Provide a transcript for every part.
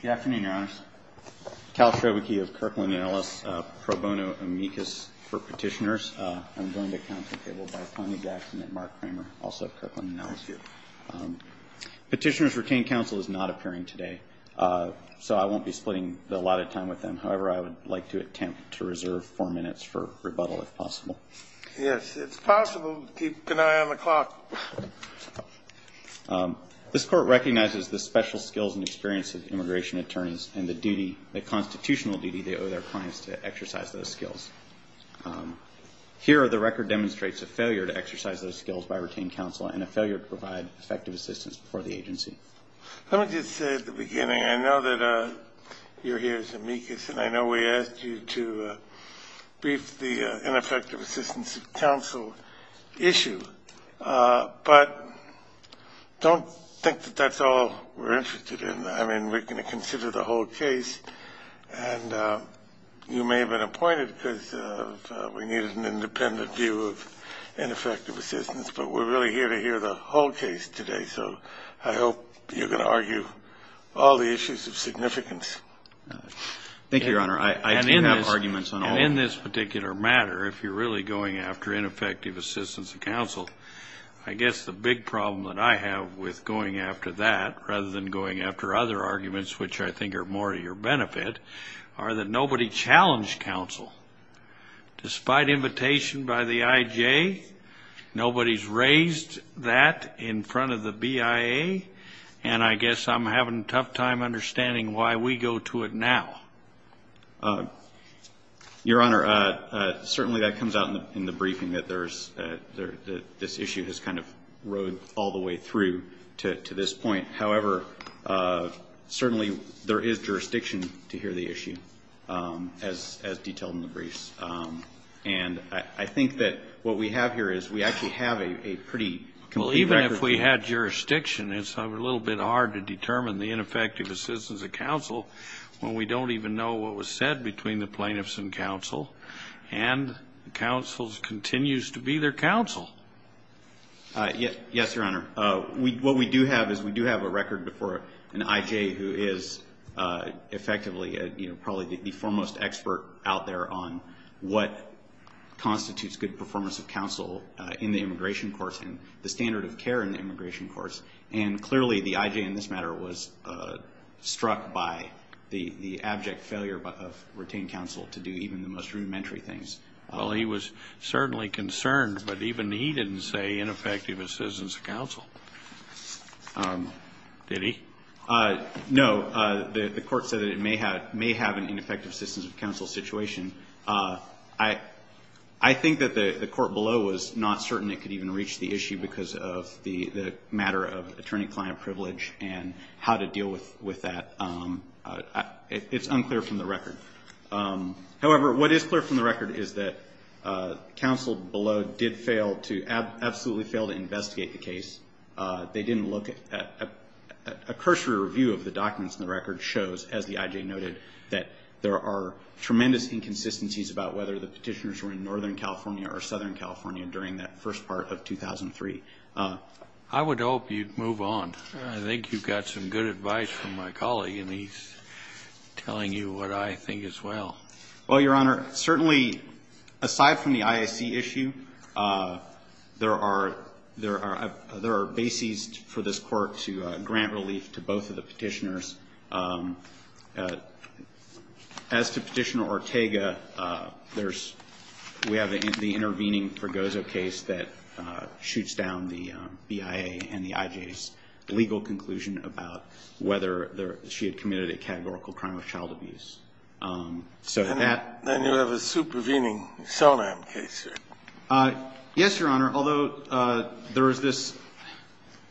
Good afternoon, Your Honors. Cal Schroederke of Kirkland & Ellis, pro bono amicus for petitioners. I'm joined at council table by Tony Jackson and Mark Kramer, also of Kirkland & Ellis here. Petitioners retained counsel is not appearing today, so I won't be splitting a lot of time with them. However, I would like to attempt to reserve four minutes for rebuttal, if possible. Yes, it's possible. Keep an eye on the clock. This court recognizes the special skills and experience of immigration attorneys and the duty, the constitutional duty they owe their clients to exercise those skills. Here, the record demonstrates a failure to exercise those skills by retained counsel and a failure to provide effective assistance for the agency. Let me just say at the beginning, I know that you're here as amicus, and I know we asked you to brief the ineffective assistance of counsel issue. But don't think that that's all we're interested in. I mean, we're going to consider the whole case, and you may have been appointed because we needed an independent view of ineffective assistance. But we're really here to hear the whole case today, so I hope you're going to argue all the issues of significance. Thank you, Your Honor. I do have arguments on all of them. And in this particular matter, if you're really going after ineffective assistance of counsel, I guess the big problem that I have with going after that, rather than going after other arguments, which I think are more to your benefit, are that nobody challenged counsel. Despite invitation by the IJ, nobody's raised that in front of the BIA, and I guess I'm having a tough time understanding why we go to it now. Your Honor, certainly that comes out in the briefing that this issue has kind of rode all the way through to this point. However, certainly there is jurisdiction to hear the issue, as detailed in the briefs. And I think that what we have here is we actually have a pretty complete record. Well, even if we had jurisdiction, it's a little bit hard to determine the ineffective assistance of counsel when we don't even know what was said between the plaintiffs and counsel, and counsel continues to be their counsel. Yes, Your Honor. What we do have is we do have a record before an IJ who is effectively, you know, probably the foremost expert out there on what constitutes good performance of counsel in the immigration course and the standard of care in the immigration course. And clearly the IJ in this matter was struck by the abject failure of retained counsel to do even the most rudimentary things. Well, he was certainly concerned, but even he didn't say ineffective assistance of counsel. Did he? No. The court said that it may have an ineffective assistance of counsel situation. I think that the court below was not certain it could even reach the issue because of the matter of attorney-client privilege and how to deal with that. It's unclear from the record. However, what is clear from the record is that counsel below did fail to, absolutely failed to investigate the case. They didn't look at, a cursory review of the documents in the record shows, as the IJ noted, that there are tremendous inconsistencies about whether the Petitioners were in Northern California or Southern California during that first part of 2003. I would hope you'd move on. I think you've got some good advice from my colleague, and he's telling you what I think as well. Well, Your Honor, certainly aside from the IAC issue, there are, there are bases for this court to grant relief to both of the Petitioners. As to Petitioner Ortega, there's, we have the intervening Pergozo case that shoots down the BIA and the IJs. There's a legal conclusion about whether she had committed a categorical crime of child abuse. So that. Then you have a supervening Soram case here. Yes, Your Honor. Although there is this,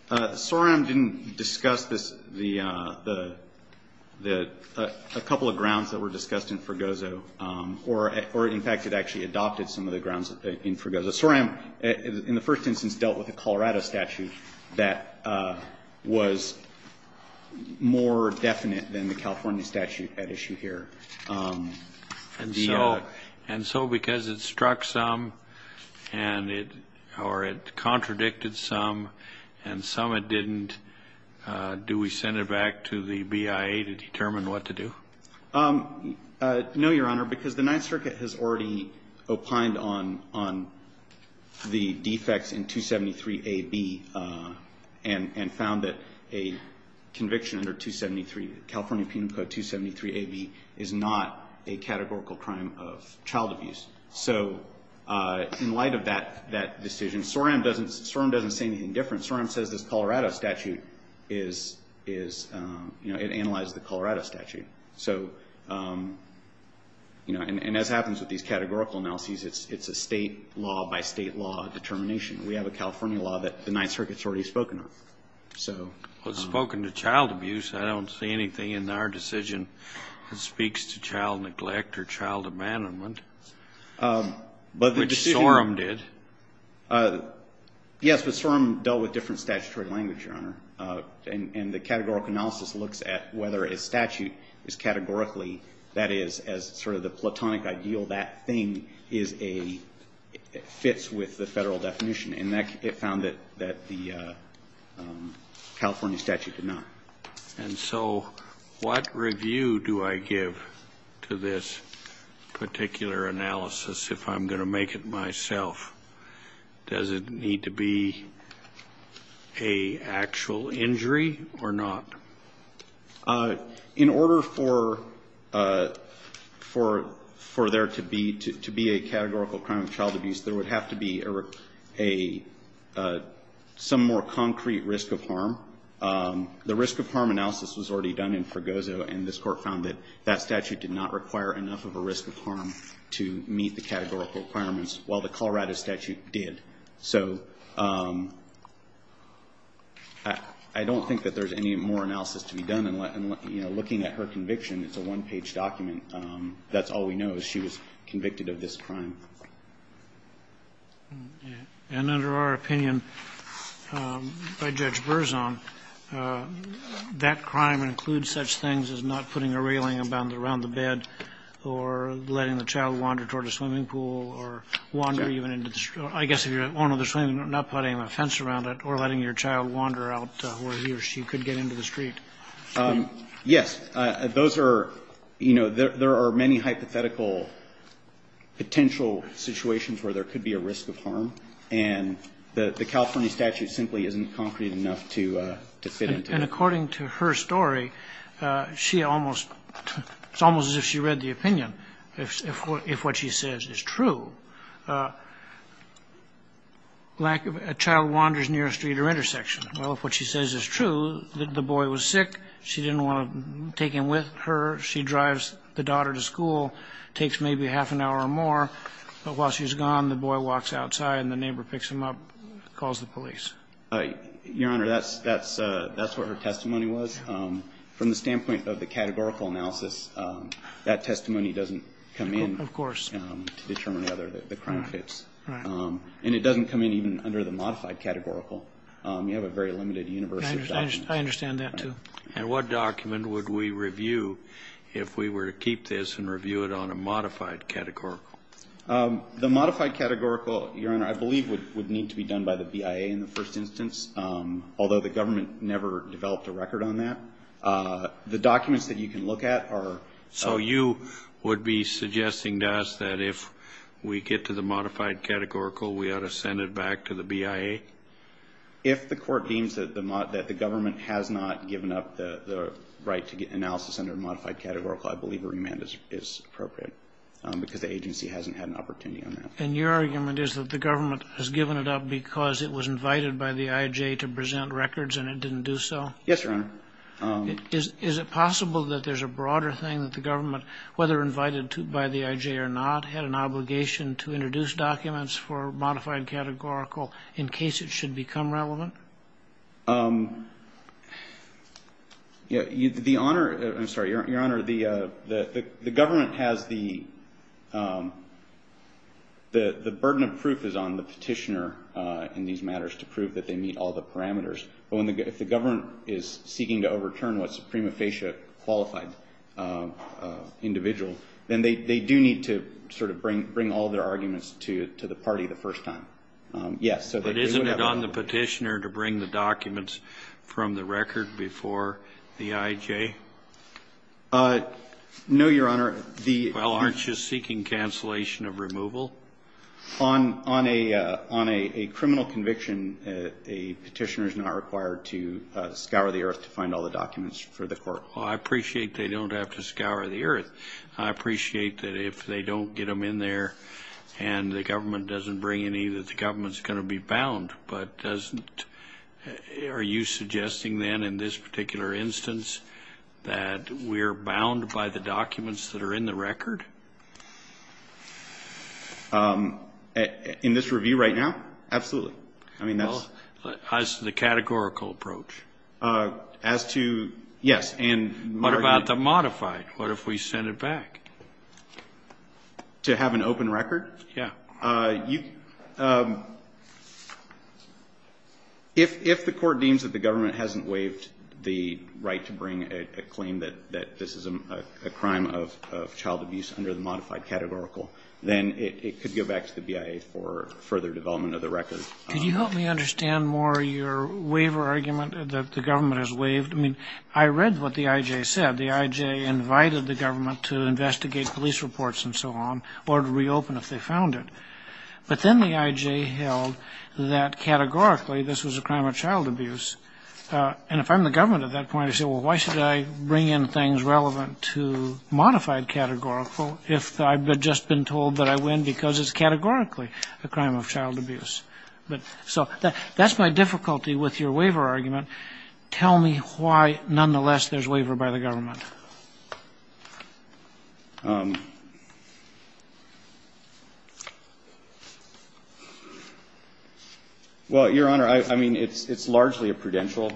Soram didn't discuss this, the, the, a couple of grounds that were discussed in Pergozo, or in fact, it actually adopted some of the grounds in Pergozo. Soram, in the first instance, dealt with a Colorado statute that was more definite than the California statute at issue here. And so, and so because it struck some and it, or it contradicted some and some it didn't, do we send it back to the BIA to determine what to do? No, Your Honor, because the Ninth Circuit has already opined on, on the defects in 273AB and, and found that a conviction under 273, California Penal Code 273AB is not a categorical crime of child abuse. So in light of that, that decision, Soram doesn't, Soram doesn't say anything different. Soram says this Colorado statute is, is, you know, it analyzes the Colorado statute. So, you know, and, and as happens with these categorical analyses, it's, it's a state law by state law determination. We have a California law that the Ninth Circuit's already spoken of. So. Well, it's spoken to child abuse. I don't see anything in our decision that speaks to child neglect or child abandonment. But the decision. Which Soram did. Yes, but Soram dealt with different statutory language, Your Honor. And, and the categorical analysis looks at whether a statute is categorically, that is, as sort of the platonic ideal, that thing is a, fits with the Federal definition. And that, it found that, that the California statute did not. And so what review do I give to this particular analysis, if I'm going to make it myself? Does it need to be a actual injury or not? In order for, for, for there to be, to, to be a categorical crime of child abuse, there would have to be a, a, some more concrete risk of harm. The risk of harm analysis was already done in Fregoso, and this Court found that that statute did not require enough of a risk of harm to meet the categorical requirements, while the Colorado statute did. So I, I don't think that there's any more analysis to be done in looking at her conviction. It's a one-page document. That's all we know is she was convicted of this crime. And under our opinion, by Judge Berzon, that crime includes such things as not putting a railing around the bed, or letting the child wander toward a swimming pool, or wander even into the street. I guess if you're on the swimming pool, not putting a fence around it, or letting your child wander out where he or she could get into the street. Yes. Those are, you know, there, there are many hypothetical potential situations where there could be a risk of harm. And the, the California statute simply isn't concrete enough to, to fit into that. And according to her story, she almost, it's almost as if she read the opinion. If, if what she says is true, a child wanders near a street or intersection. Well, if what she says is true, the boy was sick, she didn't want to take him with her, she drives the daughter to school, takes maybe half an hour or more, but while she's gone, the boy walks outside and the neighbor picks him up, calls the police. Your Honor, that's, that's, that's what her testimony was. From the standpoint of the categorical analysis, that testimony doesn't come in. Of course. To determine whether the crime fits. Right. And it doesn't come in even under the modified categorical. You have a very limited universe of documents. I understand that, too. And what document would we review if we were to keep this and review it on a modified categorical? The modified categorical, Your Honor, I believe would, would need to be done by the first instance, although the government never developed a record on that. The documents that you can look at are. So you would be suggesting to us that if we get to the modified categorical, we ought to send it back to the BIA? If the court deems that the, that the government has not given up the, the right to get analysis under a modified categorical, I believe a remand is, is appropriate because the agency hasn't had an opportunity on that. And your argument is that the government has given it up because it was invited by the IJ to present records and it didn't do so? Yes, Your Honor. Is, is it possible that there's a broader thing that the government, whether invited to, by the IJ or not, had an obligation to introduce documents for modified categorical in case it should become relevant? Yeah. The Honor, I'm sorry, Your Honor, the, the, the government has the, the, the burden of proof is on the petitioner in these matters to prove that they meet all the parameters. But when the, if the government is seeking to overturn what's a prima facie qualified individual, then they, they do need to sort of bring, bring all their arguments to, to the party the first time. Yes. But isn't it on the petitioner to bring the documents from the record before the IJ? No, Your Honor. Well, aren't you seeking cancellation of removal? On, on a, on a, a criminal conviction, a petitioner is not required to scour the earth to find all the documents for the court. Well, I appreciate they don't have to scour the earth. I appreciate that if they don't get them in there and the government doesn't bring any, that the government's going to be bound, but doesn't, are you suggesting then in this particular instance that we're bound by the documents that are in the record? In this review right now? Absolutely. I mean, that's. As to the categorical approach? As to, yes, and. What about the modified? What if we send it back? To have an open record? Yeah. You, if, if the court deems that the government hasn't waived the right to bring a, a claim that, that this is a, a crime of, of child abuse under the modified categorical, then it, it could go back to the BIA for further development of the record. Could you help me understand more your waiver argument that the government has waived? I mean, I read what the IJ said. The IJ invited the government to investigate police reports and so on or to reopen if they found it. But then the IJ held that categorically this was a crime of child abuse. And if I'm the government at that point, I say, well, why should I bring in things relevant to modified categorical if I've just been told that I win because it's categorically a crime of child abuse? But, so, that, that's my difficulty with your waiver argument. Tell me why, nonetheless, there's waiver by the government. Well, Your Honor, I, I mean, it's, it's largely a prudential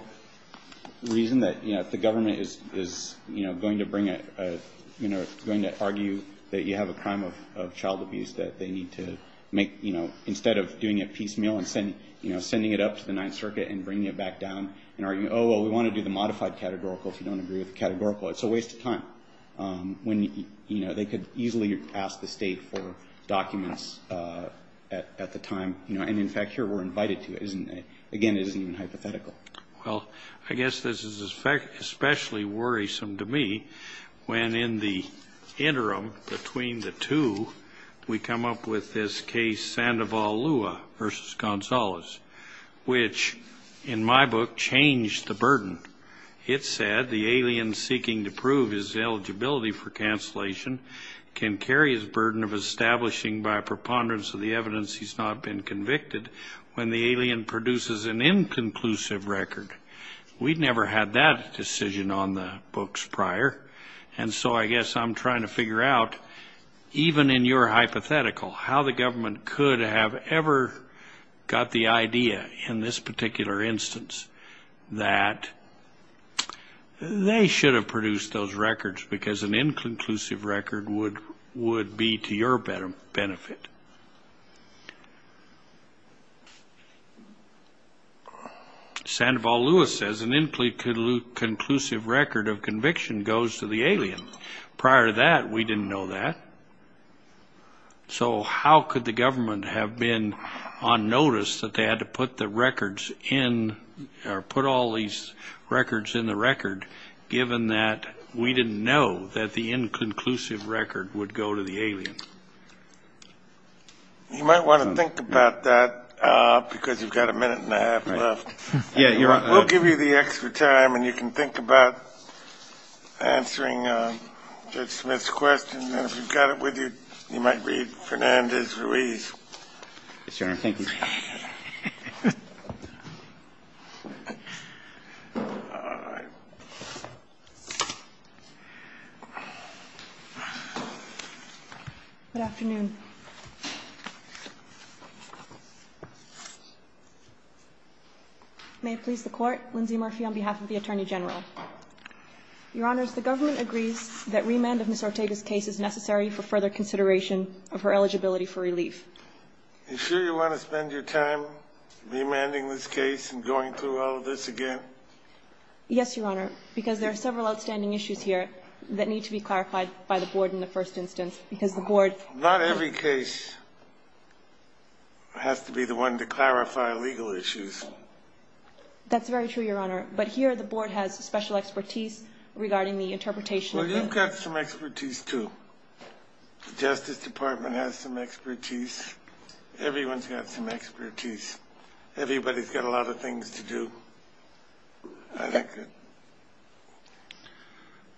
reason that, you know, if the government is, is, you know, going to bring a, a, you know, going to argue that you have a crime of, of child abuse that they need to make, you know, instead of doing it piecemeal and sending, you know, sending it up to the Ninth Circuit and bringing it back down and arguing, oh, well, we want to do the modified categorical if you don't agree with the categorical. It's a waste of time when, you know, they could easily ask the State for documents at, at the time, you know. And, in fact, here we're invited to. Again, it isn't even hypothetical. Well, I guess this is especially worrisome to me when in the interim between the two, we come up with this case Sandoval-Lua v. Gonzalez, which, in my book, changed the burden. It said the alien seeking to prove his eligibility for cancellation can carry his burden of establishing by preponderance of the evidence he's not been convicted when the alien produces an inconclusive record. We'd never had that decision on the books prior. And so I guess I'm trying to figure out, even in your hypothetical, how the they should have produced those records because an inconclusive record would be to your benefit. Sandoval-Lua says an inconclusive record of conviction goes to the alien. Prior to that, we didn't know that. So how could the government have been on notice that they had to put the records in or put all these records in the record given that we didn't know that the inconclusive record would go to the alien? You might want to think about that because you've got a minute and a half left. We'll give you the extra time, and you can think about answering Judge Smith's question, and if you've got it with you, you might read Fernandez-Ruiz. Yes, Your Honor. Thank you. Good afternoon. May it please the Court. Lindsay Murphy on behalf of the Attorney General. Your Honors, the government agrees that remand of Ms. Ortega's case is necessary for further consideration of her eligibility for relief. Are you sure you want to spend your time remanding this case and going through all of this again? Yes, Your Honor, because there are several outstanding issues here that need to be clarified by the Board in the first instance because the Board Not every case has to be the one to clarify legal issues. That's very true, Your Honor, but here the Board has special expertise regarding the interpretation Well, you've got some expertise, too. The Justice Department has some expertise. Everyone's got some expertise. Everybody's got a lot of things to do.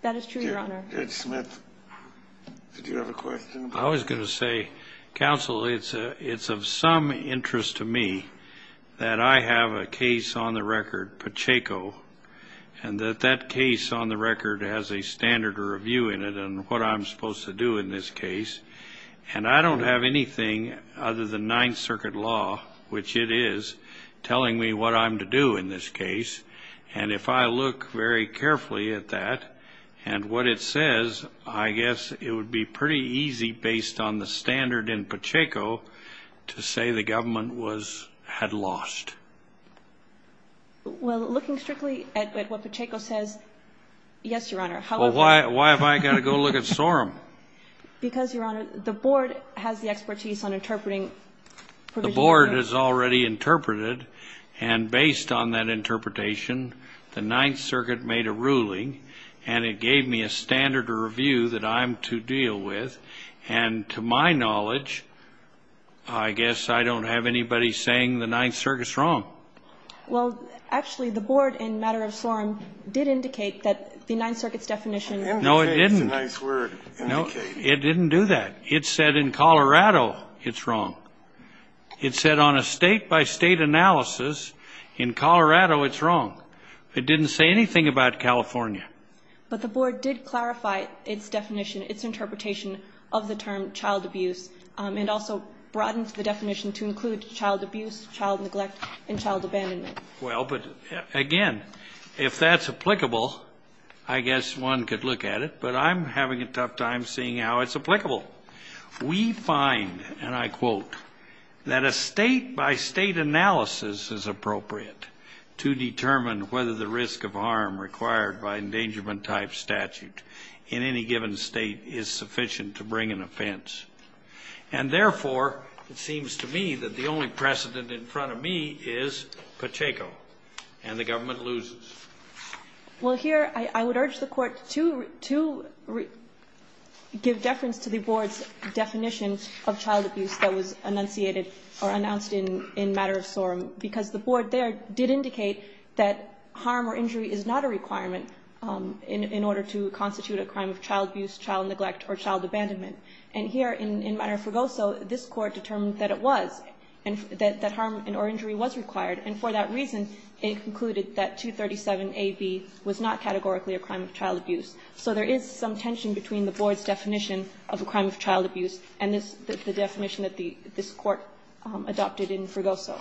That is true, Your Honor. Judge Smith, did you have a question? I was going to say, Counsel, it's of some interest to me that I have a case on the record that has a standard or a view in it on what I'm supposed to do in this case, and I don't have anything other than Ninth Circuit law, which it is, telling me what I'm to do in this case. And if I look very carefully at that and what it says, I guess it would be pretty easy, based on the standard in Pacheco, to say the government had lost. Well, looking strictly at what Pacheco says, yes, Your Honor. Well, why have I got to go look at Sorum? Because, Your Honor, the Board has the expertise on interpreting provisions. The Board has already interpreted, and based on that interpretation, the Ninth Circuit made a ruling, and it gave me a standard or a view that I'm to deal with. And to my knowledge, I guess I don't have anybody saying the Ninth Circuit's wrong. Well, actually, the Board, in matter of Sorum, did indicate that the Ninth Circuit's definition No, it didn't. It's a nice word, indicated. It didn't do that. It said in Colorado it's wrong. It said on a state-by-state analysis, in Colorado it's wrong. It didn't say anything about California. But the Board did clarify its definition, its interpretation of the term child abuse, and also broadened the definition to include child abuse, child neglect, and child abandonment. Well, but, again, if that's applicable, I guess one could look at it. But I'm having a tough time seeing how it's applicable. We find, and I quote, that a state-by-state analysis is appropriate to determine whether the risk of harm required by an endangerment-type statute in any given state is sufficient to bring an offense. And, therefore, it seems to me that the only precedent in front of me is Pacheco, and the government loses. Well, here I would urge the Court to give deference to the Board's definition of child abuse that was enunciated or announced in matter of sorum, because the Board there did indicate that harm or injury is not a requirement in order to constitute a crime of child abuse, child neglect, or child abandonment. And here, in matter of forgoso, this Court determined that it was, that harm or injury was required, and for that reason, it concluded that 237a)(b was not categorically a crime of child abuse. So there is some tension between the Board's definition of a crime of child abuse and this, the definition that the, this Court adopted in Forgoso.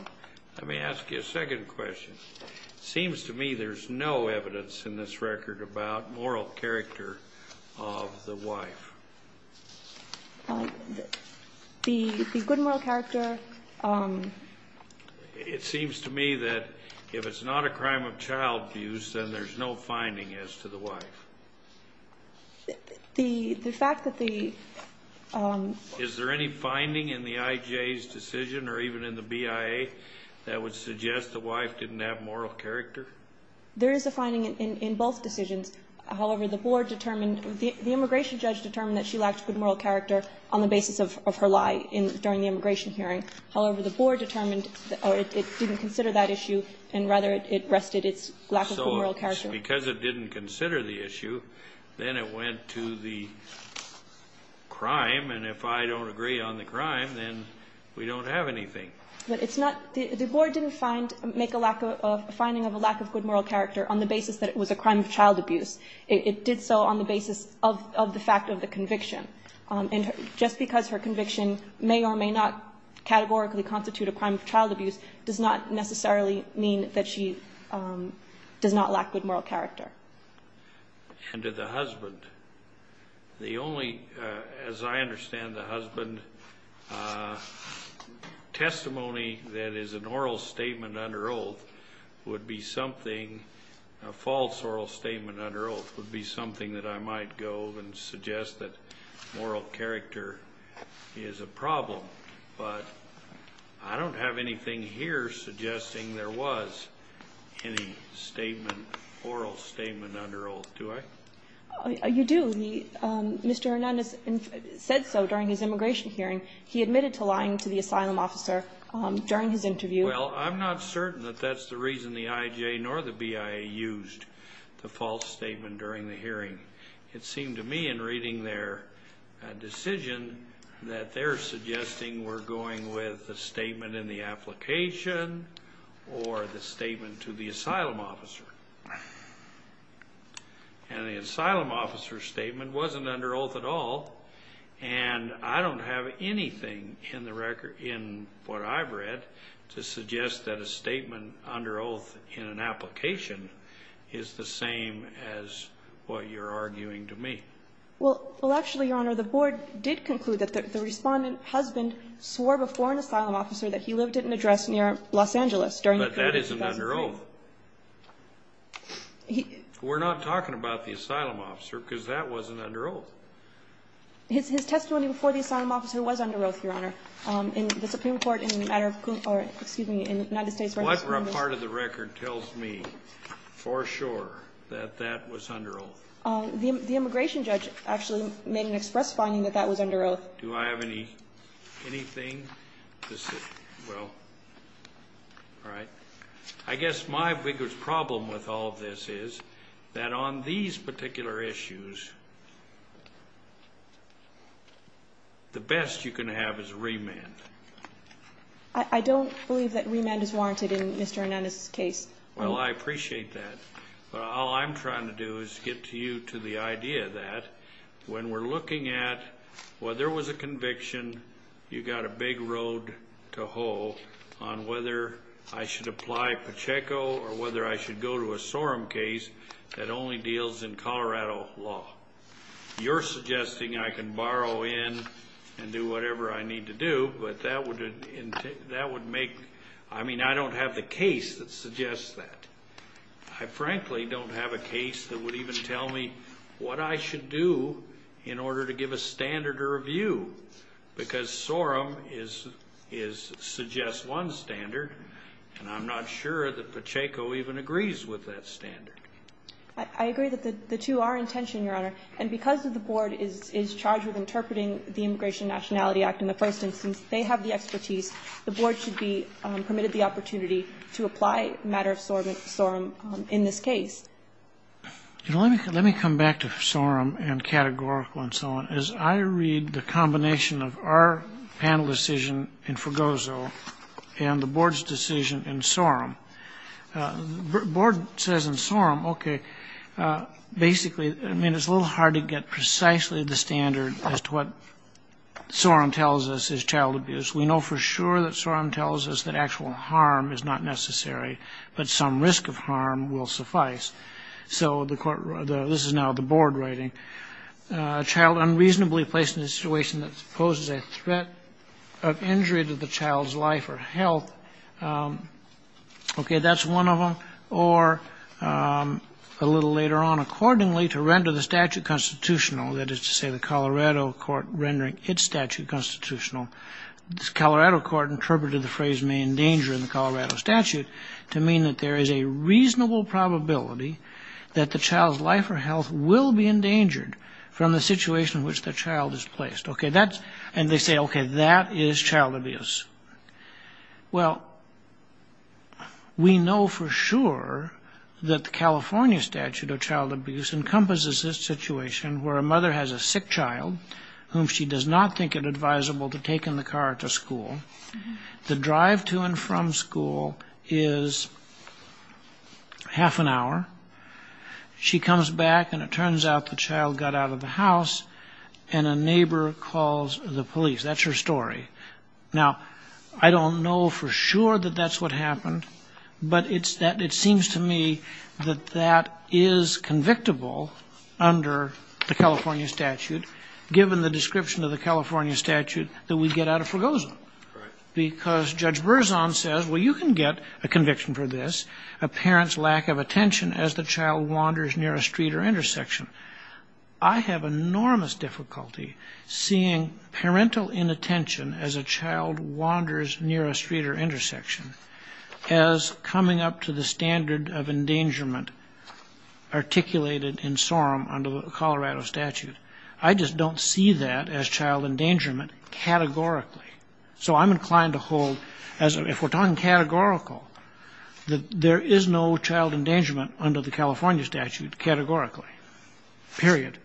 Let me ask you a second question. It seems to me there's no evidence in this record about moral character of the wife. The, the good moral character. It seems to me that if it's not a crime of child abuse, then there's no finding as to the wife. The, the fact that the... Is there any finding in the IJ's decision, or even in the BIA, that would suggest the wife didn't have moral character? There is a finding in, in both decisions. However, the Board determined, the immigration judge determined that she lacked good moral character on the basis of, of her lie in, during the immigration hearing. However, the Board determined it didn't consider that issue, and rather it rested its lack of good moral character. Because it didn't consider the issue, then it went to the crime, and if I don't agree on the crime, then we don't have anything. But it's not, the, the Board didn't find, make a lack of, a finding of a lack of good moral character on the basis that it was a crime of child abuse. It, it did so on the basis of, of the fact of the conviction. And just because her conviction may or may not categorically constitute a crime of And to the husband. The only, as I understand the husband, testimony that is an oral statement under oath would be something, a false oral statement under oath would be something that I might go and suggest that moral character is a problem. But I don't have anything here suggesting there was any statement, oral statement under oath, do I? You do. Mr. Hernandez said so during his immigration hearing. He admitted to lying to the asylum officer during his interview. Well, I'm not certain that that's the reason the IJ nor the BIA used the false statement during the hearing. It seemed to me in reading their decision that they're suggesting we're going with the statement in the application or the statement to the asylum officer. And the asylum officer's statement wasn't under oath at all. And I don't have anything in the record, in what I've read, to suggest that a Well, actually, Your Honor, the board did conclude that the respondent husband swore before an asylum officer that he lived in an address near Los Angeles during But that isn't under oath. We're not talking about the asylum officer because that wasn't under oath. His testimony before the asylum officer was under oath, Your Honor. In the Supreme Court in the matter of, excuse me, in the United States. What part of the record tells me for sure that that was under oath? The immigration judge actually made an express finding that that was under oath. Do I have anything to say? Well, all right. I guess my biggest problem with all of this is that on these particular issues, the best you can have is remand. I don't believe that remand is warranted in Mr. Hernandez's case. Well, I appreciate that. But all I'm trying to do is get you to the idea that when we're looking at whether it was a conviction, you've got a big road to hoe on whether I should apply Pacheco or whether I should go to a SORM case that only deals in Colorado law. You're suggesting I can borrow in and do whatever I need to do, but that would make I mean, I don't have the case that suggests that. I frankly don't have a case that would even tell me what I should do in order to give a standard or a view, because SORM suggests one standard, and I'm not sure that Pacheco even agrees with that standard. I agree that the two are in tension, Your Honor. And because the board is charged with interpreting the Immigration and Nationality Act in the first instance, they have the expertise. The board should be permitted the opportunity to apply a matter of SORM in this case. Let me come back to SORM and categorical and so on. As I read the combination of our panel decision in Fregoso and the board's decision in SORM, the board says in SORM, okay, basically, I mean, it's a little hard to get precisely the standard as to what SORM tells us is child abuse. We know for sure that SORM tells us that actual harm is not necessary, but some risk of harm will suffice. So this is now the board writing. A child unreasonably placed in a situation that poses a threat of injury to the child's life or health. Okay, that's one of them. Or a little later on, accordingly, to render the statute constitutional, that is to say the Colorado court rendering its statute constitutional, the Colorado court interpreted the phrase may endanger in the Colorado statute to mean that there is a reasonable probability that the child's life or health will be endangered from the situation in which the child is placed. Okay, that's and they say, okay, that is child abuse. Well, we know for sure that the California statute of child abuse encompasses this situation where a mother has a sick child whom she does not think it advisable to take in the car to school. The drive to and from school is half an hour. She comes back and it turns out the child got out of the house and a neighbor calls the police. That's her story. Now, I don't know for sure that that's what happened, but it seems to me that that is convictable under the California statute, given the description of the California statute, that we get out of Fragoso. Because Judge Berzon says, well, you can get a conviction for this, a parent's lack of attention as the child wanders near a street or intersection. I have enormous difficulty seeing parental inattention as a child wanders near a street or intersection as coming up to the standard of endangerment articulated in SORM under the Colorado statute. I just don't see that as child endangerment categorically. So I'm inclined to hold, if we're talking categorical, that there is no child endangerment under the California statute categorically, period.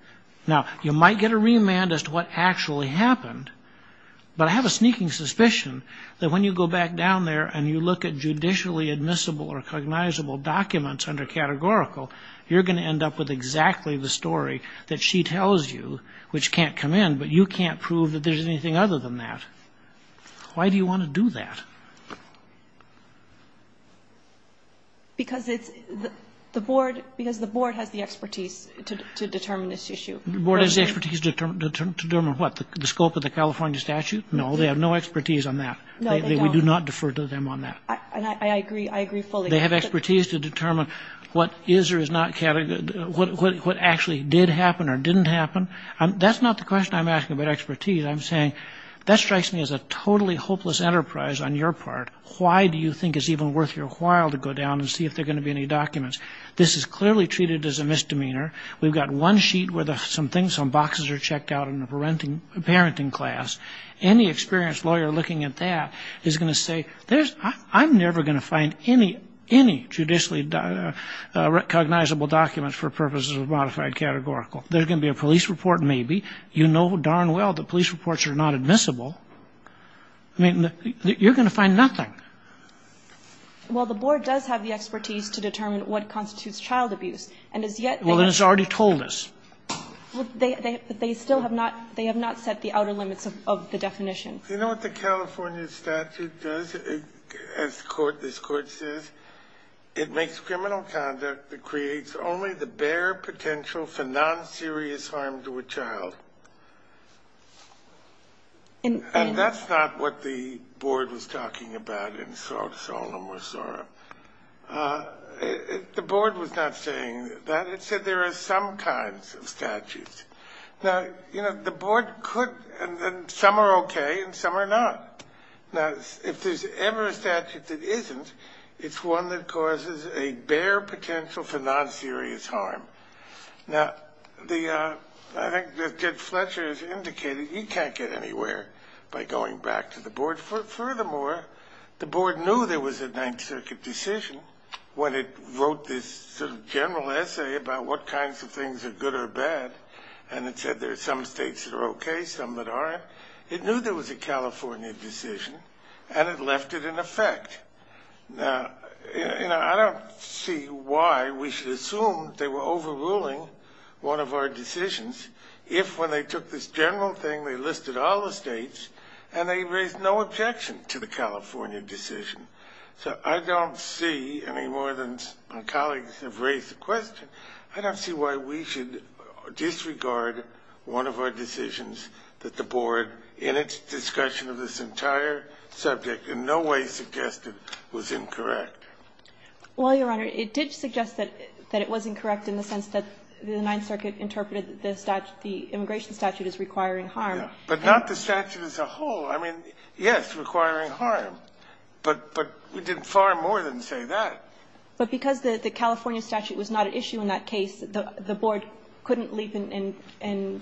Now, you might get a remand as to what actually happened, but I have a sneaking suspicion that when you go back down there and you look at judicially admissible or cognizable documents under categorical, you're going to end up with exactly the story that she tells you, which can't come in, but you can't prove that there's anything other than that. Why do you want to do that? Because it's the board, because the board has the expertise to determine this issue. The board has the expertise to determine what? The scope of the California statute? No, they have no expertise on that. No, they don't. We do not defer to them on that. And I agree, I agree fully. They have expertise to determine what is or is not categorical, what actually did happen or didn't happen. That's not the question I'm asking about expertise. I'm saying that strikes me as a totally hopeless enterprise on your part. Why do you think it's even worth your while to go down and see if there are going to be any documents? This is clearly treated as a misdemeanor. We've got one sheet where some boxes are checked out in the parenting class. Any experienced lawyer looking at that is going to say, I'm never going to find any judicially cognizable documents for purposes of modified categorical. There's going to be a police report maybe. You know darn well the police reports are not admissible. I mean, you're going to find nothing. Well, the board does have the expertise to determine what constitutes child abuse. And as yet they have not. Well, it's already told us. They still have not, they have not set the outer limits of the definition. You know what the California statute does, as the Court, this Court says? It makes criminal conduct that creates only the bare potential for non-serious harm to a child. And that's not what the board was talking about in Solom or Sora. The board was not saying that. It said there are some kinds of statutes. Now, you know, the board could, and some are okay and some are not. Now, if there's ever a statute that isn't, it's one that causes a bare potential for non-serious harm. Now, I think as Jed Fletcher has indicated, you can't get anywhere by going back to the board. Furthermore, the board knew there was a Ninth Circuit decision when it wrote this sort of general essay about what kinds of things are good or bad. And it said there are some states that are okay, some that aren't. But it knew there was a California decision and it left it in effect. Now, you know, I don't see why we should assume they were overruling one of our decisions if when they took this general thing they listed all the states and they raised no objection to the California decision. So I don't see, any more than my colleagues have raised the question, I don't see why we should disregard one of our decisions that the board in its discussion of this entire subject in no way suggested was incorrect. Well, Your Honor, it did suggest that it was incorrect in the sense that the Ninth Circuit interpreted the statute, the immigration statute as requiring harm. But not the statute as a whole. I mean, yes, requiring harm. But we did far more than say that. But because the California statute was not at issue in that case, the board couldn't leave and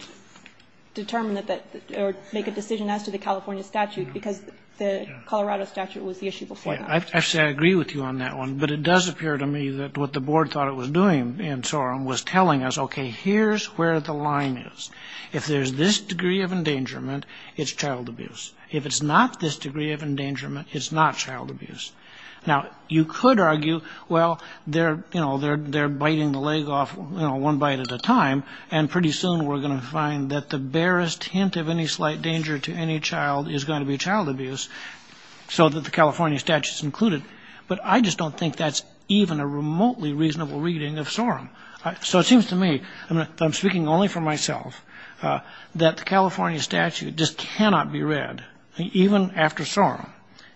determine that, or make a decision as to the California statute because the Colorado statute was the issue before that. Actually, I agree with you on that one. But it does appear to me that what the board thought it was doing in Sorem was telling us, okay, here's where the line is. If there's this degree of endangerment, it's child abuse. If it's not this degree of endangerment, it's not child abuse. Now, you could argue, well, they're, you know, they're biting the leg off one bite at a time, and pretty soon we're going to find that the barest hint of any slight danger to any child is going to be child abuse, so that the California statute's included. But I just don't think that's even a remotely reasonable reading of Sorem. So it seems to me, I'm speaking only for myself, that the California statute just cannot be read, even after Sorem,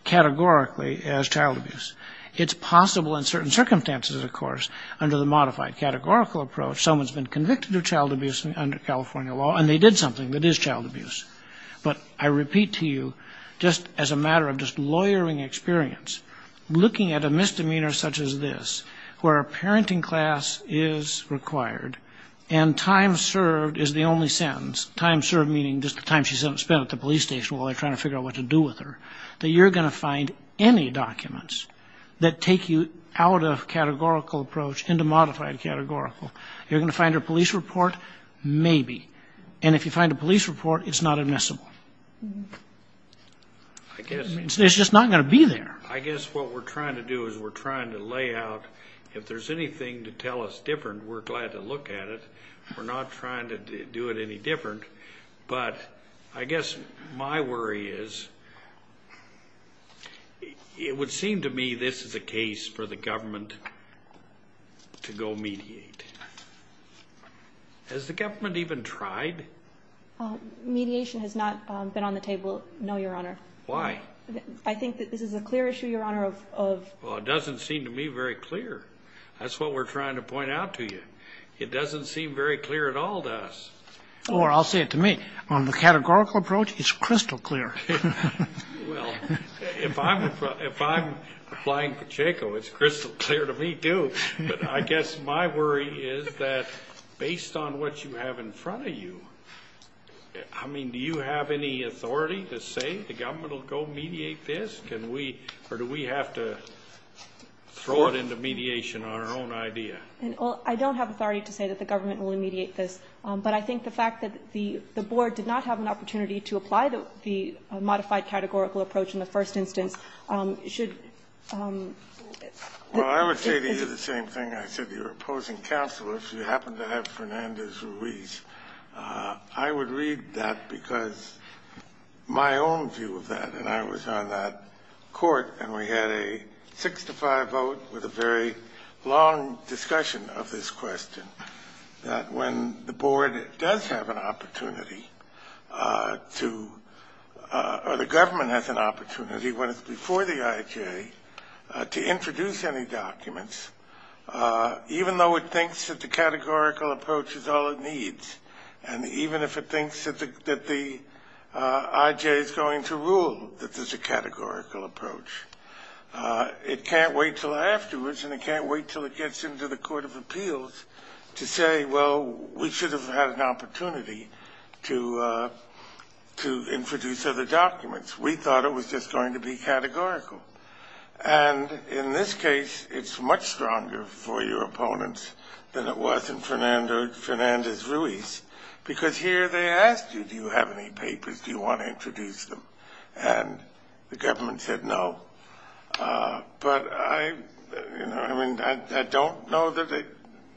categorically as child abuse. It's possible in certain circumstances, of course, under the modified categorical approach, someone's been convicted of child abuse under California law, and they did something that is child abuse. But I repeat to you, just as a matter of just lawyering experience, looking at a misdemeanor such as this, where a parenting class is required, and time served is the only sentence, time served meaning just the time she spent at the police station while they're trying to figure out what to do with her, that you're going to find any documents that take you out of categorical approach into modified categorical. You're going to find her police report, maybe. And if you find a police report, it's not admissible. It's just not going to be there. I guess what we're trying to do is we're trying to lay out, if there's anything to tell us different, we're glad to look at it. We're not trying to do it any different. But I guess my worry is it would seem to me this is a case for the government to go mediate. Has the government even tried? Mediation has not been on the table, no, Your Honor. Why? I think that this is a clear issue, Your Honor. Well, it doesn't seem to me very clear. That's what we're trying to point out to you. It doesn't seem very clear at all to us. Or I'll say it to me. On the categorical approach, it's crystal clear. Well, if I'm applying Pacheco, it's crystal clear to me, too. But I guess my worry is that based on what you have in front of you, I mean, do you have any authority to say the government will go mediate this? Can we or do we have to throw it into mediation on our own idea? Well, I don't have authority to say that the government will mediate this. But I think the fact that the board did not have an opportunity to apply the modified categorical approach in the first instance should. Well, I would say to you the same thing I said to your opposing counsel. If you happen to have Fernandez-Ruiz, I would read that because my own view of that and I was on that court and we had a six to five vote with a very long discussion of this question, that when the board does have an opportunity to or the government has an opportunity, when it's before the IJ, to introduce any documents, even though it thinks that the categorical approach is all it needs, and even if it thinks that the IJ is going to rule that there's a categorical approach, it can't wait until afterwards and it can't wait until it gets into the court of appeals to say, well, we should have had an opportunity to introduce other documents. We thought it was just going to be categorical. And in this case, it's much stronger for your opponents than it was in Fernandez-Ruiz, because here they asked you, do you have any papers? Do you want to introduce them? And the government said no. But I don't know that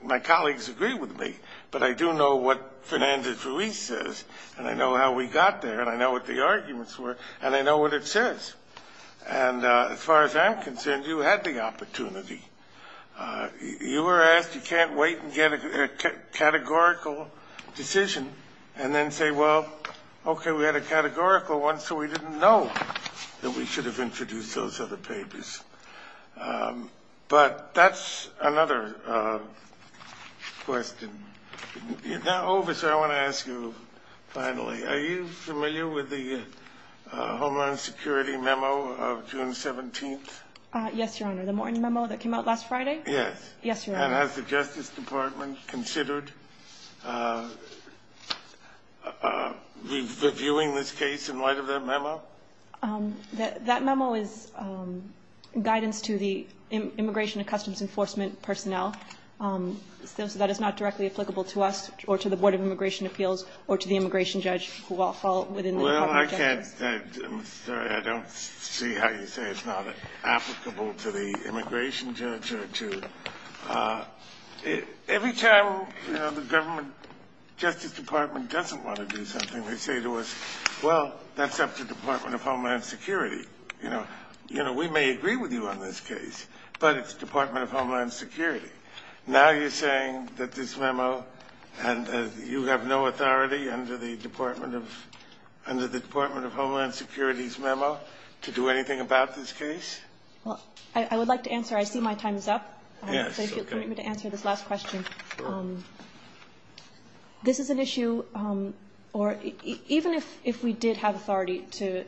my colleagues agree with me, but I do know what Fernandez-Ruiz says, and I know how we got there, and I know what the arguments were, and I know what it says. And as far as I'm concerned, you had the opportunity. You were asked you can't wait and get a categorical decision and then say, well, okay, we had a categorical one, so we didn't know that we should have introduced those other papers. But that's another question. Now, Oberst, I want to ask you finally, are you familiar with the Homeland Security memo of June 17th? Yes, Your Honor. The Morton memo that came out last Friday? Yes. Yes, Your Honor. And has the Justice Department considered reviewing this case in light of that memo? That memo is guidance to the Immigration and Customs Enforcement personnel. So that is not directly applicable to us or to the Board of Immigration Appeals or to the immigration judge who will fall within the Department of Justice? Well, I can't say. I'm sorry. I don't see how you say it's not applicable to the immigration judge or to the ---- Every time, you know, the government justice department doesn't want to do something, they say to us, well, that's up to the Department of Homeland Security. You know, we may agree with you on this case, but it's Department of Homeland Security. Now you're saying that this memo, and you have no authority under the Department of Homeland Security's memo to do anything about this case? Well, I would like to answer. I see my time is up. Yes. Okay. So if you'll permit me to answer this last question. Sure. This is an issue, or even if we did have authority to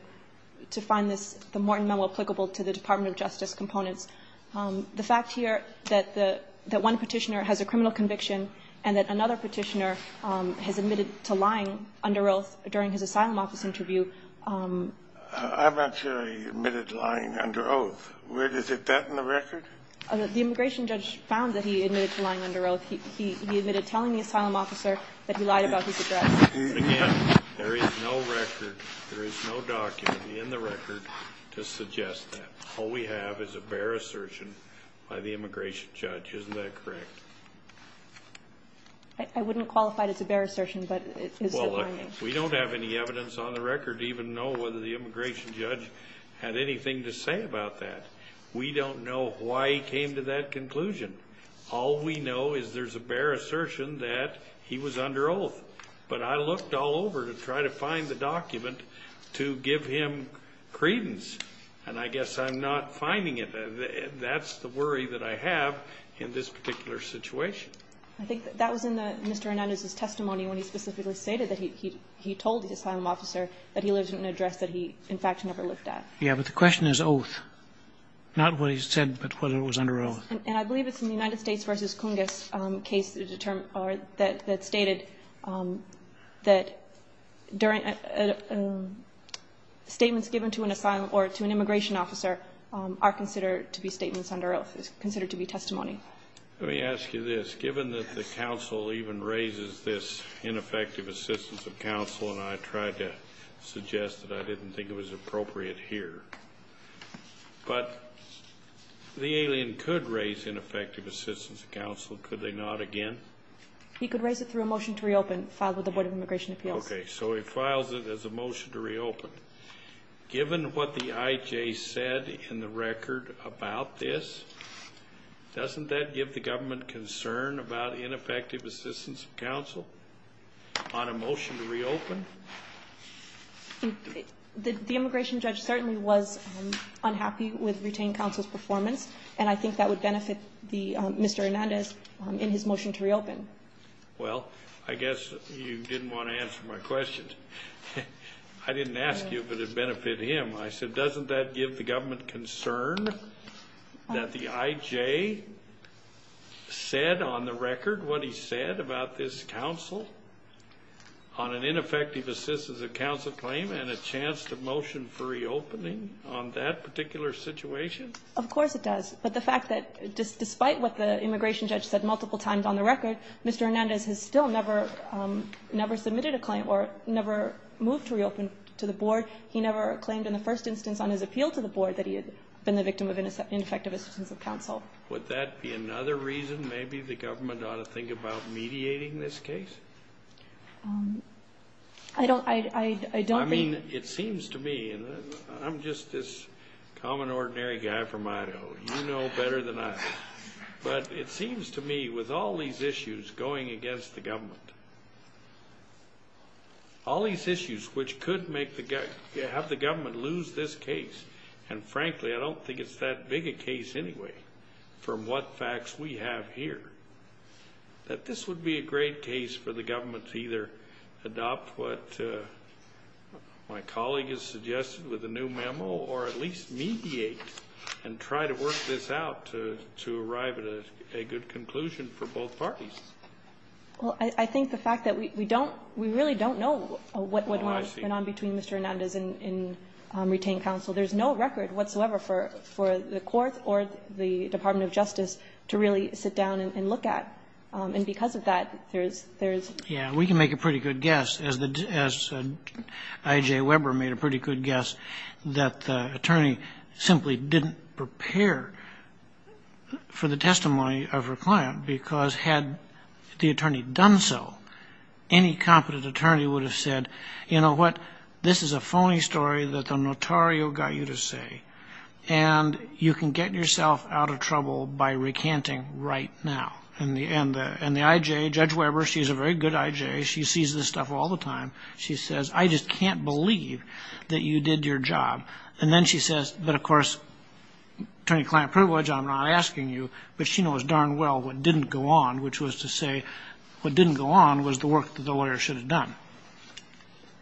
find this, the Morton memo applicable to the Department of Justice components, the fact here that one Petitioner has a criminal conviction and that another Petitioner has admitted to lying under oath during his asylum office interview. I'm not sure he admitted to lying under oath. Is it that in the record? The immigration judge found that he admitted to lying under oath. He admitted telling the asylum officer that he lied about his address. Again, there is no record. There is no document in the record to suggest that. All we have is a bare assertion by the immigration judge. Isn't that correct? I wouldn't qualify it as a bare assertion, but it is. Well, we don't have any evidence on the record to even know whether the immigration judge had anything to say about that. We don't know why he came to that conclusion. All we know is there's a bare assertion that he was under oath. But I looked all over to try to find the document to give him credence, and I guess I'm not finding it. That's the worry that I have in this particular situation. I think that was in Mr. Hernandez's testimony when he specifically stated that he told the asylum officer that he lives in an address that he, in fact, never looked at. Yes, but the question is oath, not what he said, but whether it was under oath. Yes, and I believe it's in the United States v. Cungus case that stated that during statements given to an asylum or to an immigration officer are considered to be statements under oath, is considered to be testimony. Let me ask you this. Given that the counsel even raises this ineffective assistance of counsel, and I tried to suggest that I didn't think it was appropriate here, but the alien could raise ineffective assistance of counsel, could they not again? He could raise it through a motion to reopen filed with the Board of Immigration Appeals. Okay, so he files it as a motion to reopen. Given what the IJ said in the record about this, doesn't that give the government concern about ineffective assistance of counsel on a motion to reopen? The immigration judge certainly was unhappy with retained counsel's performance, and I think that would benefit Mr. Hernandez in his motion to reopen. Well, I guess you didn't want to answer my question. I didn't ask you if it would benefit him. I said, doesn't that give the government concern that the IJ said on the record what he said about this counsel on an ineffective assistance of counsel claim and a chance to motion for reopening on that particular situation? Of course it does. But the fact that despite what the immigration judge said multiple times on the record, Mr. Hernandez has still never submitted a claim or never moved to reopen to the board. He never claimed in the first instance on his appeal to the board that he had been the victim of ineffective assistance of counsel. Would that be another reason? Maybe the government ought to think about mediating this case? I don't think. I mean, it seems to me, and I'm just this common, ordinary guy from Idaho. You know better than I do. But it seems to me with all these issues going against the government, all these issues which could have the government lose this case, and frankly I don't think it's that big a case anyway from what facts we have here, that this would be a great case for the government to either adopt what my colleague has suggested with a new memo or at least mediate and try to work this out to arrive at a good conclusion for both parties. Well, I think the fact that we don't we really don't know what went on between Mr. Hernandez and retained counsel. There's no record whatsoever for the court or the Department of Justice to really sit down and look at. And because of that, there's, there's. Yeah. We can make a pretty good guess, as I.J. Weber made a pretty good guess, that the attorney simply didn't prepare for the testimony of her client because had the attorney done so, any competent attorney would have said, you know what, this is a phony story that the notario got you to say, and you can get yourself out of trouble by recanting right now. And the I.J., Judge Weber, she's a very good I.J. She sees this stuff all the time. She says, I just can't believe that you did your job. And then she says, but of course, attorney-client privilege, I'm not asking you. But she knows darn well what didn't go on, which was to say what didn't go on was the work that the lawyer should have done.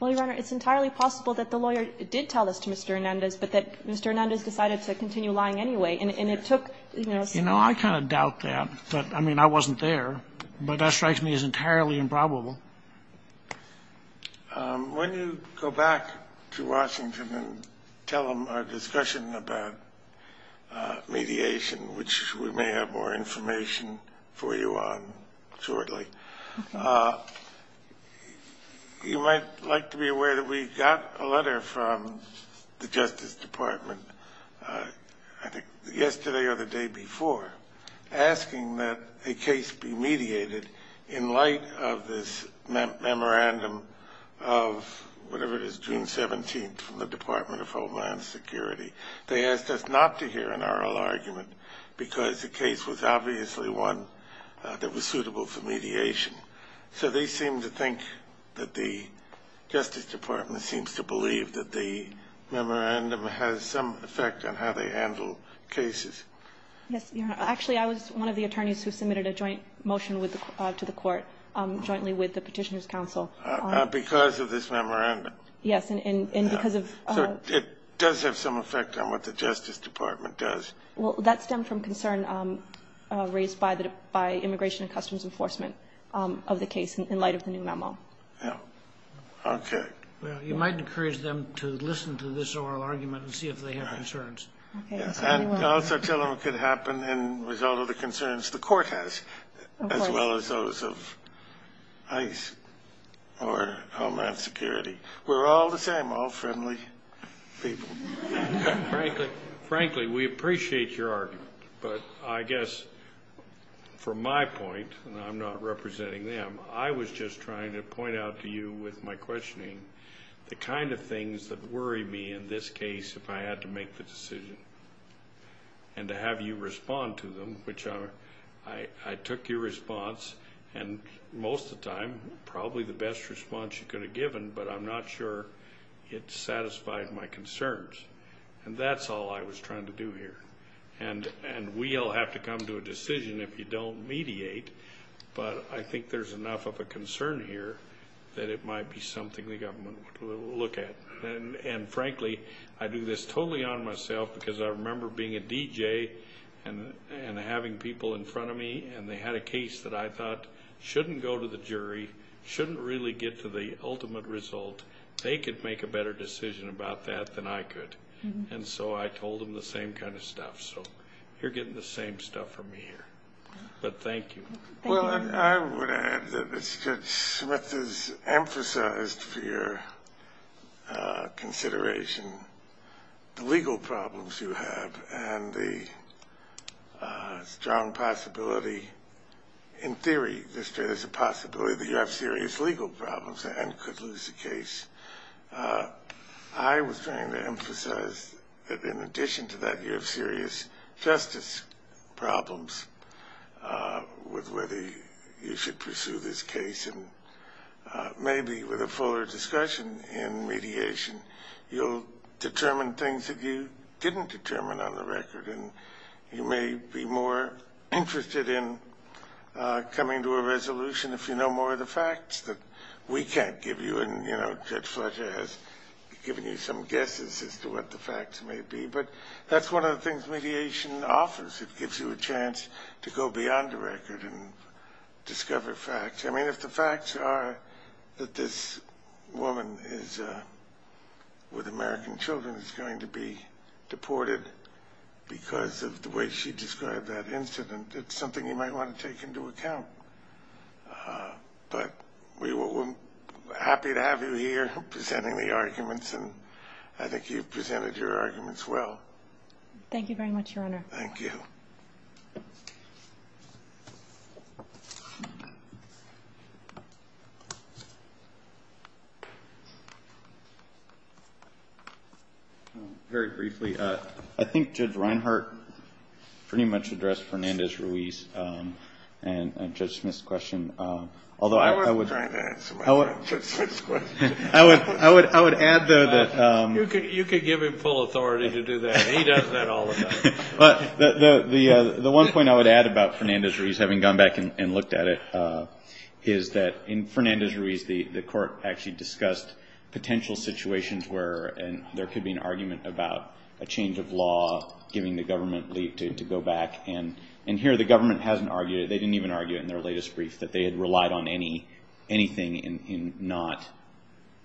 Well, Your Honor, it's entirely possible that the lawyer did tell this to Mr. Hernandez, but that Mr. Hernandez decided to continue lying anyway, and it took, you know. You know, I kind of doubt that. But, I mean, I wasn't there. But that strikes me as entirely improbable. When you go back to Washington and tell them our discussion about mediation, which we may have more information for you on shortly, you might like to be aware that we got a letter from the Justice Department, I think yesterday or the day before, asking that a case be mediated in light of this memorandum of whatever it is, June 17th, from the Department of Homeland Security. They asked us not to hear an oral argument because the case was obviously one that was suitable for mediation. So they seem to think that the Justice Department seems to believe that the memorandum has some effect on how they handle cases. Yes, Your Honor. Actually, I was one of the attorneys who submitted a joint motion to the court jointly with the Petitioners' Council. Because of this memorandum. Yes, and because of the ---- So it does have some effect on what the Justice Department does. Well, that stemmed from concern raised by Immigration and Customs Enforcement of the case in light of the new memo. Yes. Okay. Well, you might encourage them to listen to this oral argument and see if they have concerns. And all such elements could happen as a result of the concerns the court has, as well as those of ICE or Homeland Security. We're all the same, all friendly people. Frankly, we appreciate your argument. But I guess from my point, and I'm not representing them, I was just trying to point out to you with my questioning the kind of things that worry me in this case if I had to make the decision. And to have you respond to them, which I took your response. And most of the time, probably the best response you could have given, but I'm not sure it satisfied my concerns. And that's all I was trying to do here. And we all have to come to a decision if you don't mediate. But I think there's enough of a concern here that it might be something the government will look at. And frankly, I do this totally on myself because I remember being a DJ and having people in front of me. And they had a case that I thought shouldn't go to the jury, shouldn't really get to the ultimate result. They could make a better decision about that than I could. And so I told them the same kind of stuff. So you're getting the same stuff from me here. But thank you. Well, I would add that Judge Smith has emphasized for your consideration the legal problems you have and the strong possibility. In theory, there's a possibility that you have serious legal problems and could lose the case. I was trying to emphasize that in addition to that, you have serious justice problems with whether you should pursue this case. And maybe with a fuller discussion in mediation, you'll determine things that you didn't determine on the record. And you may be more interested in coming to a resolution if you know more of the facts that we can't give you. And Judge Fletcher has given you some guesses as to what the facts may be. But that's one of the things mediation offers. It gives you a chance to go beyond the record and discover facts. I mean, if the facts are that this woman with American children is going to be deported because of the way she described that incident, it's something you might want to take into account. But we're happy to have you here presenting the arguments, and I think you've presented your arguments well. Thank you very much, Your Honor. Thank you. Thank you. Very briefly, I think Judge Reinhart pretty much addressed Fernandez-Ruiz and Judge Smith's question. Although I would – I wasn't trying to answer Judge Smith's question. I would add, though, that – You could give him full authority to do that, and he does that all the time. The one point I would add about Fernandez-Ruiz, having gone back and looked at it, is that in Fernandez-Ruiz the court actually discussed potential situations where there could be an argument about a change of law, giving the government leave to go back. And here the government hasn't argued it. They didn't even argue it in their latest brief, that they had relied on anything in not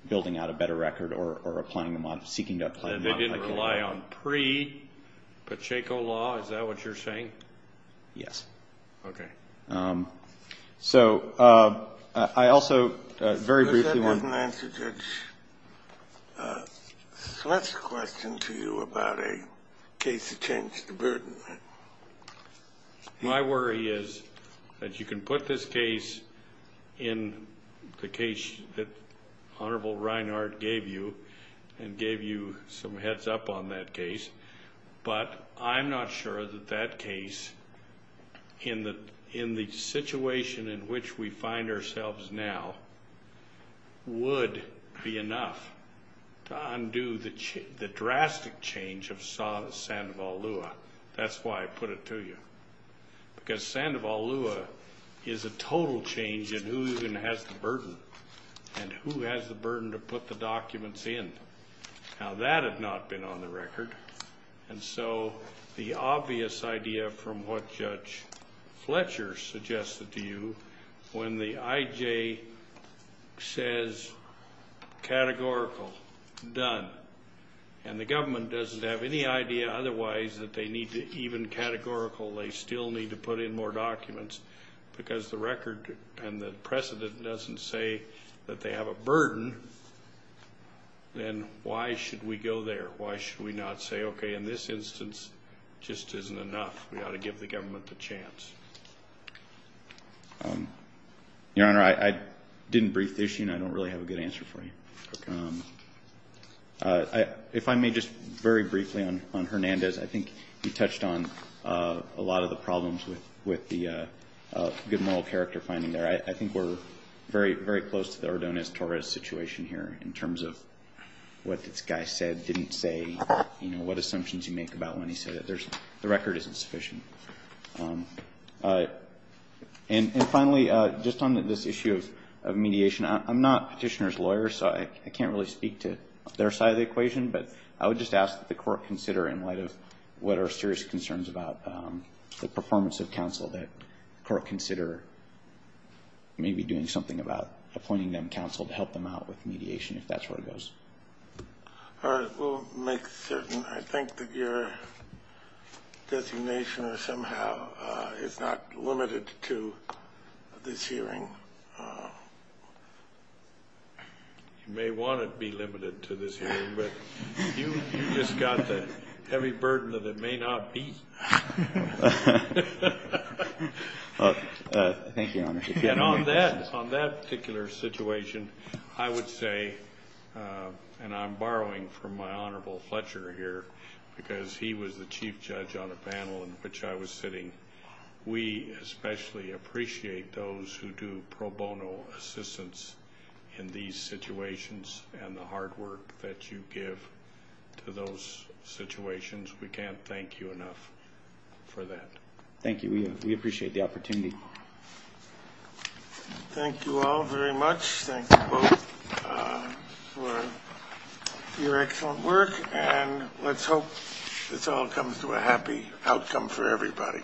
building out a better record or seeking to apply the model. They didn't rely on pre-Pacheco law. Is that what you're saying? Yes. Okay. So I also very briefly want – That doesn't answer Judge Smith's question to you about a case of change of burden. My worry is that you can put this case in the case that Honorable Reinhart gave you and gave you some heads-up on that case, but I'm not sure that that case in the situation in which we find ourselves now would be enough to undo the drastic change of Sandoval Lua. That's why I put it to you. Because Sandoval Lua is a total change in who even has the burden and who has the burden to put the documents in. Now that had not been on the record, and so the obvious idea from what Judge Fletcher suggested to you, when the IJ says categorical, done, and the government doesn't have any idea otherwise that they need to even categorical, they still need to put in more documents, because the record and the precedent doesn't say that they have a burden, then why should we go there? Why should we not say, okay, in this instance, it just isn't enough. We ought to give the government the chance. Your Honor, I didn't brief this. I don't really have a good answer for you. If I may just very briefly on Hernandez, I think you touched on a lot of the problems with the good moral character finding there. I think we're very, very close to the Ordonez-Torres situation here in terms of what this guy said, didn't say, what assumptions you make about when he said it. The record isn't sufficient. And finally, just on this issue of mediation, I'm not Petitioner's lawyer, so I can't really speak to their side of the equation, but I would just ask that the Court consider, in light of what are serious concerns about the performance of counsel, that the Court consider maybe doing something about appointing them counsel to help them out with mediation, if that's where it goes. All right, we'll make certain I think that your designation or somehow is not limited to this hearing. You may want to be limited to this hearing, but you just got the heavy burden that it may not be. Thank you, Your Honor. On that particular situation, I would say, and I'm borrowing from my Honorable Fletcher here, because he was the Chief Judge on a panel in which I was sitting, we especially appreciate those who do pro bono assistance in these situations and the hard work that you give to those situations. We can't thank you enough for that. Thank you. We appreciate the opportunity. Thank you all very much. Thank you both for your excellent work, and let's hope this all comes to a happy outcome for everybody.